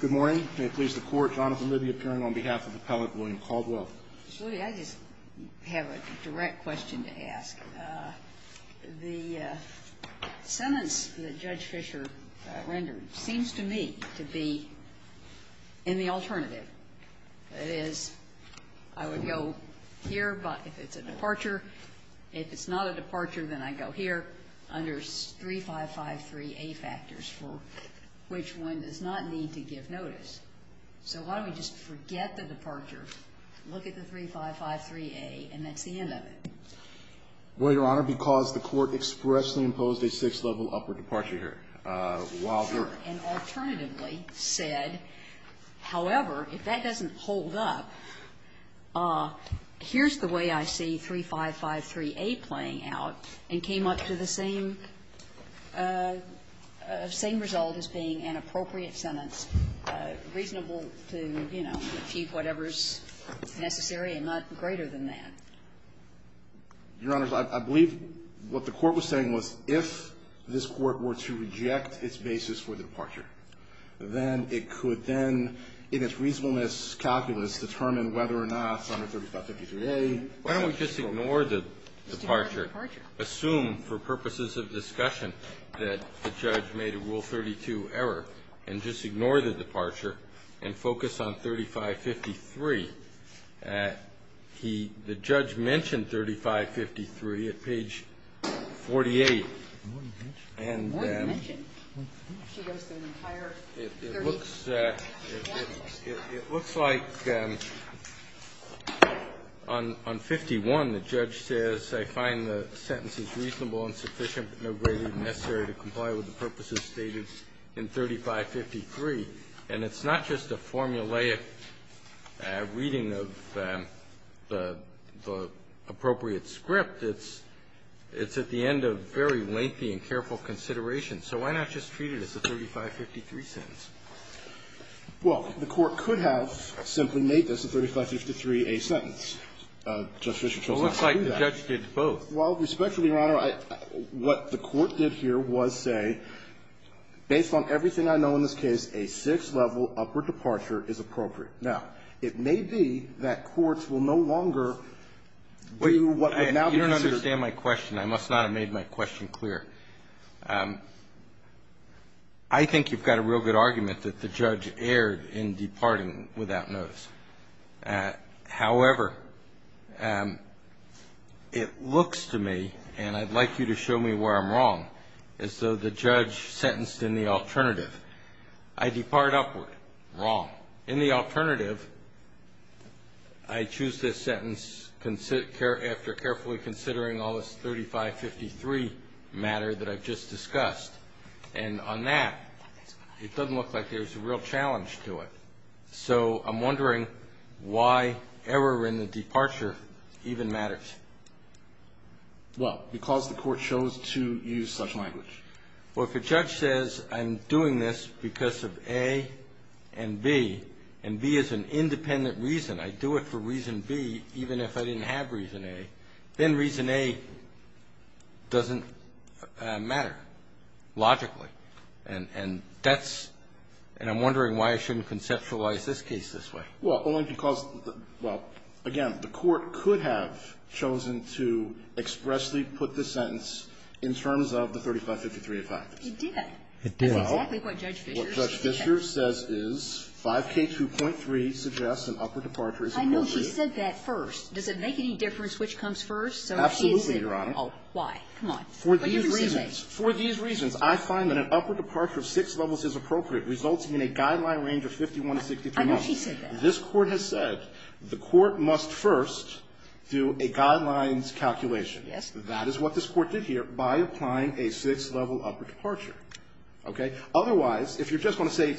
Good morning. May it please the Court, Jonathan Liddy appearing on behalf of Appellant William Caldwell. Mr. Liddy, I just have a direct question to ask. The sentence that Judge Fischer rendered seems to me to be in the alternative. That is, I would go here if it's a departure. If it's not a departure, then I go here under 3553A factors for which one does not need to give notice. So why don't we just forget the departure, look at the 3553A, and that's the end of it? Well, Your Honor, because the Court expressly imposed a sixth-level upward departure here while you're at it. And alternatively said, however, if that doesn't hold up, here's the way I see 3553A playing out, and came up to the same result as being an appropriate sentence. Reasonable to, you know, refute whatever's necessary and not greater than that. Your Honors, I believe what the Court was saying was if this Court were to reject its basis for the departure, then it could then, in its reasonableness calculus, determine whether or not it's under 3553A. Why don't we just ignore the departure, assume for purposes of discussion that the judge made a Rule 32 error, and just ignore the departure and focus on 3553 The judge mentioned 3553 at page 48. And it looks like on 51, the judge says, I find the sentence is reasonable and sufficient, but no greater than necessary to comply with the purposes stated in 3553. And it's not just a formulaic reading of the appropriate script. It's at the end of very lengthy and careful consideration. So why not just treat it as a 3553 sentence? Well, the Court could have simply made this a 3553A sentence. Judge Fischer chose not to do that. It looks like the judge did both. Well, respectfully, Your Honor, what the Court did here was say, based on everything I know in this case, a sixth-level upward departure is appropriate. Now, it may be that courts will no longer do what would now be considered You don't understand my question. I must not have made my question clear. I think you've got a real good argument that the judge erred in departing without notice. However, it looks to me, and I'd like you to show me where I'm wrong, as though the judge sentenced in the alternative. I depart upward. Wrong. In the alternative, I choose this sentence after carefully considering all this 3553 matter that I've just discussed. And on that, it doesn't look like there's a real challenge to it. So I'm wondering why error in the departure even matters. Well, because the Court chose to use such language. Well, if a judge says, I'm doing this because of A and B, and B is an independent reason, I do it for reason B even if I didn't have reason A, then reason A doesn't matter logically. And that's – and I'm wondering why I shouldn't conceptualize this case this way. Well, only because – well, again, the Court could have chosen to expressly put this sentence in terms of the 3553 effect. It did. It did. That's exactly what Judge Fischer said. What Judge Fischer says is 5K2.3 suggests an upward departure is appropriate. I know she said that first. Does it make any difference which comes first? Absolutely, Your Honor. Oh, why? Come on. For these reasons, for these reasons, I find that an upward departure of six levels is appropriate, resulting in a guideline range of 51 to 63 months. She said that. This Court has said the Court must first do a guidelines calculation. Yes. That is what this Court did here by applying a six-level upward departure. Okay? Otherwise, if you're just going to say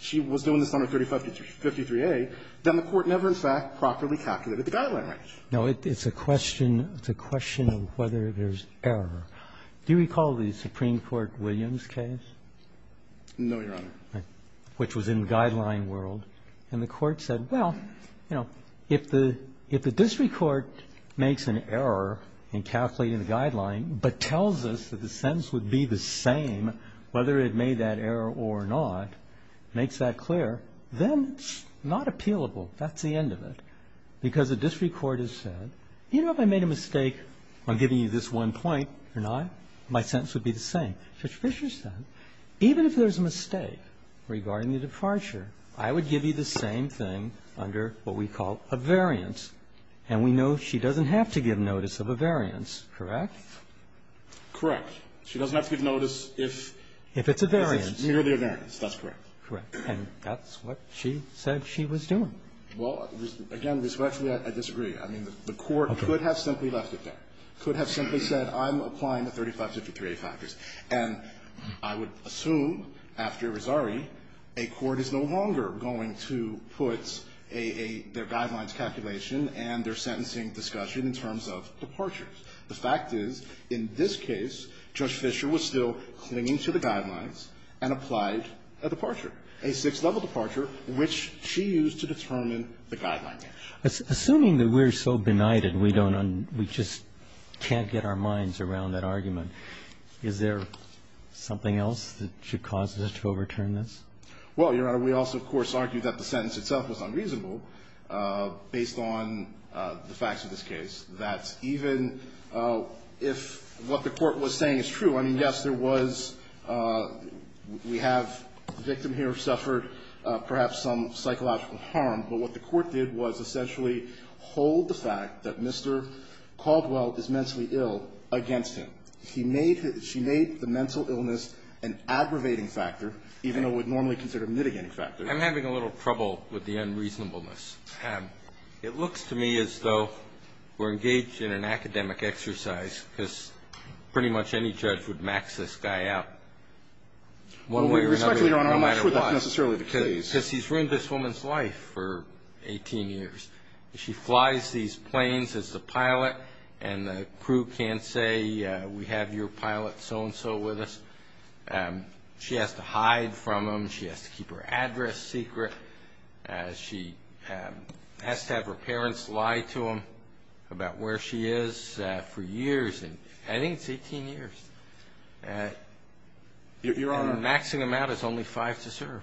she was doing this under 3553A, then the Court never in fact properly calculated the guideline range. Now, it's a question of whether there's error. Do you recall the Supreme Court Williams case? No, Your Honor. Which was in the guideline world. And the Court said, well, you know, if the district court makes an error in calculating the guideline but tells us that the sentence would be the same whether it made that error or not, makes that clear, then it's not appealable. That's the end of it. Because the district court has said, you know, if I made a mistake on giving you this one point or not, my sentence would be the same. Now, Judge Fischer said even if there's a mistake regarding the departure, I would give you the same thing under what we call a variance. And we know she doesn't have to give notice of a variance, correct? Correct. She doesn't have to give notice if it's merely a variance. That's correct. Correct. And that's what she said she was doing. Well, again, respectfully, I disagree. I mean, the Court could have simply left it there, could have simply said I'm applying the 3553A factors, and I would assume after Rosari a court is no longer going to put a, a, their guidelines calculation and their sentencing discussion in terms of departures. The fact is, in this case, Judge Fischer was still clinging to the guidelines and applied a departure, a sixth-level departure, which she used to determine the guidelines. Assuming that we're so benighted we don't un we just can't get our minds around that argument. Is there something else that should cause us to overturn this? Well, Your Honor, we also, of course, argue that the sentence itself was unreasonable based on the facts of this case, that even if what the Court was saying is true, I mean, yes, there was, we have, the victim here suffered perhaps some psychological harm, but what the Court did was essentially hold the fact that Mr. Caldwell is mentally ill against him. He made his, she made the mental illness an aggravating factor, even though it would normally consider mitigating factor. I'm having a little trouble with the unreasonableness. It looks to me as though we're engaged in an academic exercise because pretty much any judge would max this guy out one way or another. Well, Your Honor, I'm not sure that's necessarily the case. Because he's ruined this woman's life for 18 years. She flies these planes as the pilot, and the crew can't say, we have your pilot so-and-so with us. She has to hide from him. She has to keep her address secret. She has to have her parents lie to him about where she is for years. I think it's 18 years. Your Honor. And maxing him out is only five to serve.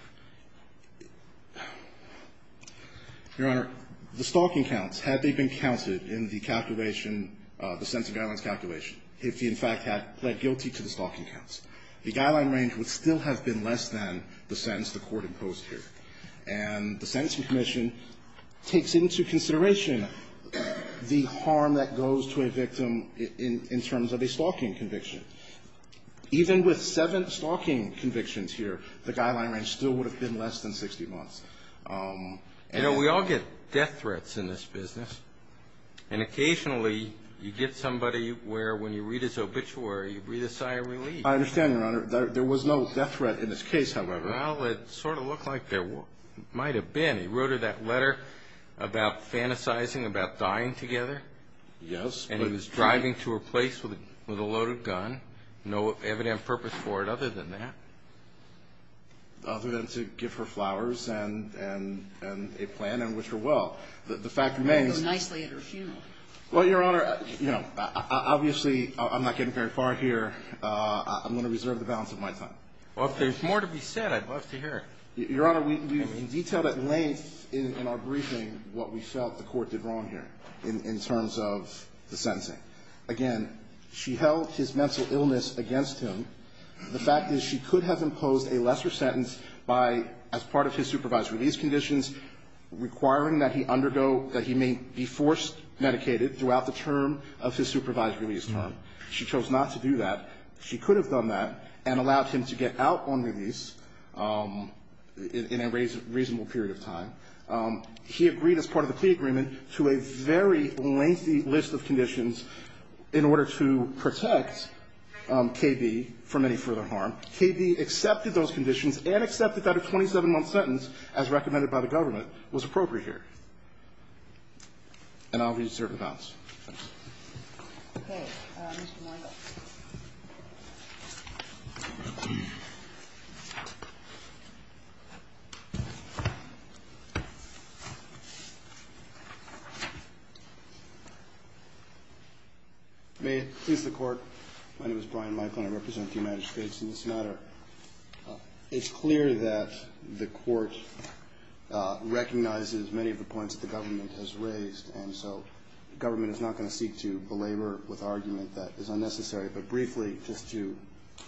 Your Honor, the stalking counts, had they been counted in the calculation, the Sentencing Guidelines calculation, if he in fact had pled guilty to the stalking counts, the guideline range would still have been less than the sentence the Court imposed here. And the Sentencing Commission takes into consideration the harm that goes to a victim in terms of a stalking conviction. Even with seven stalking convictions here, the guideline range still would have been less than 60 months. You know, we all get death threats in this business. And occasionally you get somebody where when you read his obituary, you breathe a sigh of relief. I understand, Your Honor. There was no death threat in this case, however. Well, it sort of looked like there might have been. He wrote her that letter about fantasizing about dying together. Yes. And he was driving to her place with a loaded gun. No evident purpose for it other than that. Other than to give her flowers and a plan and wish her well. The fact remains. And go nicely at her funeral. Well, Your Honor, you know, obviously I'm not getting very far here. I'm going to reserve the balance of my time. Well, if there's more to be said, I'd love to hear it. Your Honor, we detailed at length in our briefing what we felt the Court did wrong here in terms of the sentencing. Again, she held his mental illness against him. The fact is she could have imposed a lesser sentence by, as part of his supervised release conditions, requiring that he undergo, that he may be forced medicated throughout the term of his supervised release term. She chose not to do that. She could have done that and allowed him to get out on release in a reasonable period of time. He agreed, as part of the plea agreement, to a very lengthy list of conditions in order to protect KB from any further harm. KB accepted those conditions and accepted that a 27-month sentence, as recommended by the government, was appropriate here. And I'll reserve the balance. Okay. Mr. Moynihan. May it please the Court. My name is Brian Moynihan. I represent the United States in this matter. It's clear that the Court recognizes many of the points that the government has raised. And so the government is not going to seek to belabor with argument that is unnecessary. But briefly, just to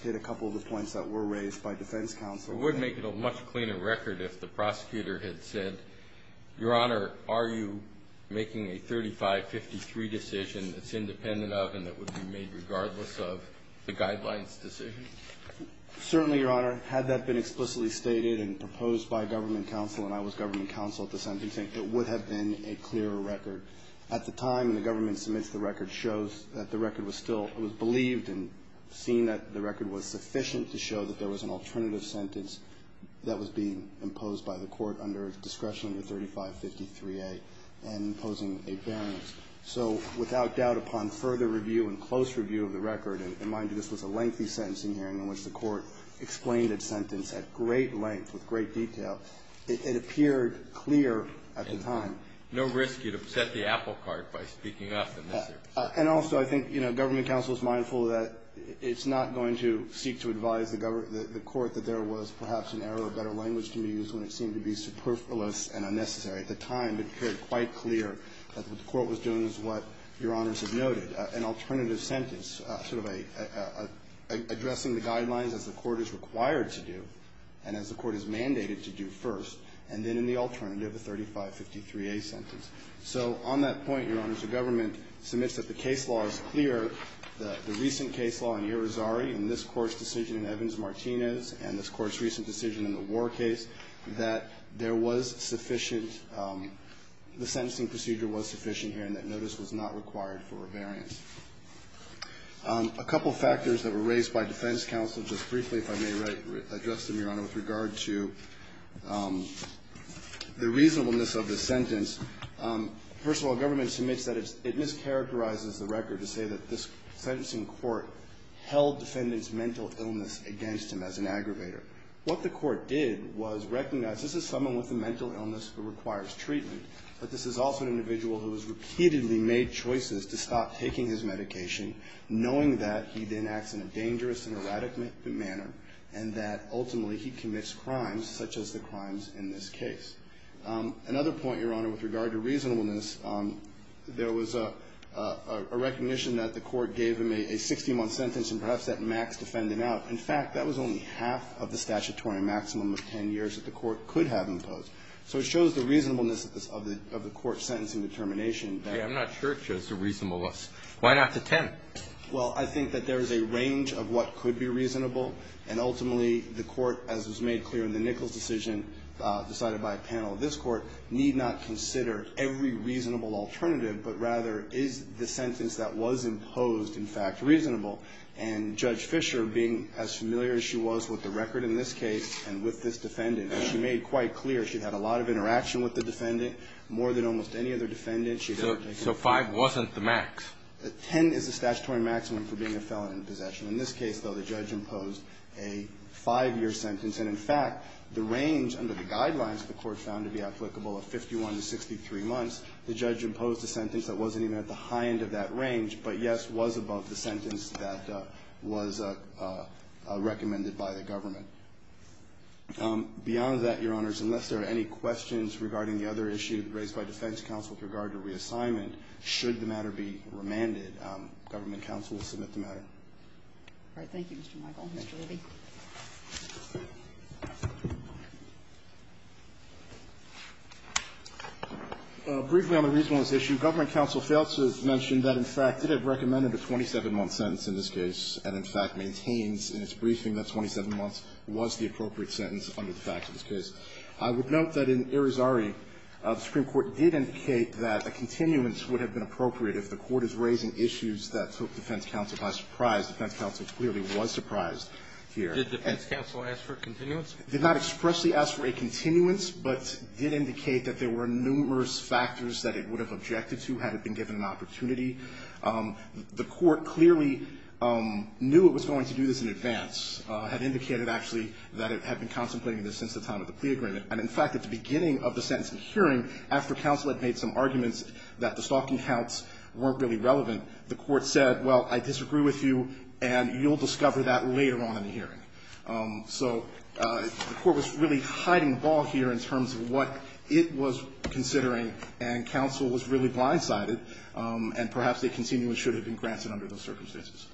hit a couple of the points that were raised by defense counsel. We would make it a much cleaner record if the prosecutor had said, Your Honor, are you making a 3553 decision that's independent of and that would be made regardless of the guidelines decision? Certainly, Your Honor. Had that been explicitly stated and proposed by government counsel and I was government counsel at the sentencing, it would have been a clearer record. At the time the government submits the record, shows that the record was still it was believed and seen that the record was sufficient to show that there was an alternative sentence that was being imposed by the Court under discretion under 3553A and imposing a barrenness. So without doubt, upon further review and close review of the record, and mind you, this was a lengthy sentencing hearing in which the Court explained its sentence at great length, with great detail. It appeared clear at the time. And no risk, you'd upset the apple cart by speaking up in this case. And also, I think, you know, government counsel is mindful that it's not going to seek to advise the Court that there was perhaps an error of better language to be used when it seemed to be superfluous and unnecessary. At the time, it appeared quite clear that what the Court was doing is what Your Honors have noted, an alternative sentence, sort of addressing the guidelines as the Court is required to do and as the Court is mandated to do first, and then in the alternative, a 3553A sentence. So on that point, Your Honors, the government submits that the case law is clear, the recent case law in Irizarry and this Court's decision in Evans-Martinez and this Court's recent decision in the War case, that there was sufficient the sentencing procedure was sufficient here and that notice was not required for rebearance. A couple factors that were raised by defense counsel, just briefly, if I may address them, Your Honor, with regard to the reasonableness of the sentence. First of all, government submits that it mischaracterizes the record to say that this sentencing court held defendant's mental illness against him as an aggravator. What the Court did was recognize this is someone with a mental illness who requires treatment, but this is also an individual who has repeatedly made choices to stop taking his medication, knowing that he then acts in a dangerous and erratic manner and that ultimately he commits crimes such as the crimes in this case. Another point, Your Honor, with regard to reasonableness, there was a recognition that the Court gave him a 60-month sentence and perhaps that maxed defendant out. In fact, that was only half of the statutory maximum of 10 years that the Court could have imposed. So it shows the reasonableness of the Court's sentencing determination. I'm not sure it shows the reasonableness. Why not the 10? Well, I think that there is a range of what could be reasonable, and ultimately the Court, as was made clear in the Nichols decision decided by a panel of this Court, need not consider every reasonable alternative, but rather is the sentence that was imposed, in fact, reasonable. And Judge Fischer, being as familiar as she was with the record in this case and with this defendant, she made quite clear she had a lot of interaction with the defendant more than almost any other defendant. So 5 wasn't the max? 10 is the statutory maximum for being a felon in possession. In this case, though, the judge imposed a 5-year sentence. And in fact, the range under the guidelines the Court found to be applicable of 51 to 63 months, the judge imposed a sentence that wasn't even at the high end of that range, but, yes, was above the sentence that was recommended by the government. Beyond that, Your Honors, unless there are any questions regarding the other issue raised by defense counsel with regard to reassignment, should the matter be remanded, government counsel will submit the matter. All right. Thank you, Mr. Michael. Mr. Levy. Briefly on the reasonableness issue, government counsel failed to mention that, in fact, it had recommended a 27-month sentence in this case and, in fact, maintains in its briefing that 27 months was the appropriate sentence under the facts of this case. I would note that in Arizari, the Supreme Court did indicate that a continuance would have been appropriate if the Court is raising issues that took defense counsel by surprise. Defense counsel clearly was surprised here. Did defense counsel ask for a continuance? Did not expressly ask for a continuance, but did indicate that there were numerous factors that it would have objected to had it been given an opportunity. The Court clearly knew it was going to do this in advance, had indicated actually that it had been contemplating this since the time of the plea agreement. And, in fact, at the beginning of the sentencing hearing, after counsel had made some arguments that the stalking counts weren't really relevant, the Court said, well, I disagree with you, and you'll discover that later on in the hearing. So the Court was really hiding the ball here in terms of what it was considering, and counsel was really blindsided, and perhaps a continuance should have been granted under those circumstances.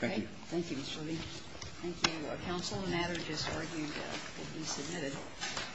Thank you. Thank you, Mr. Levy. Thank you. Counsel, the matter just argued will be submitted.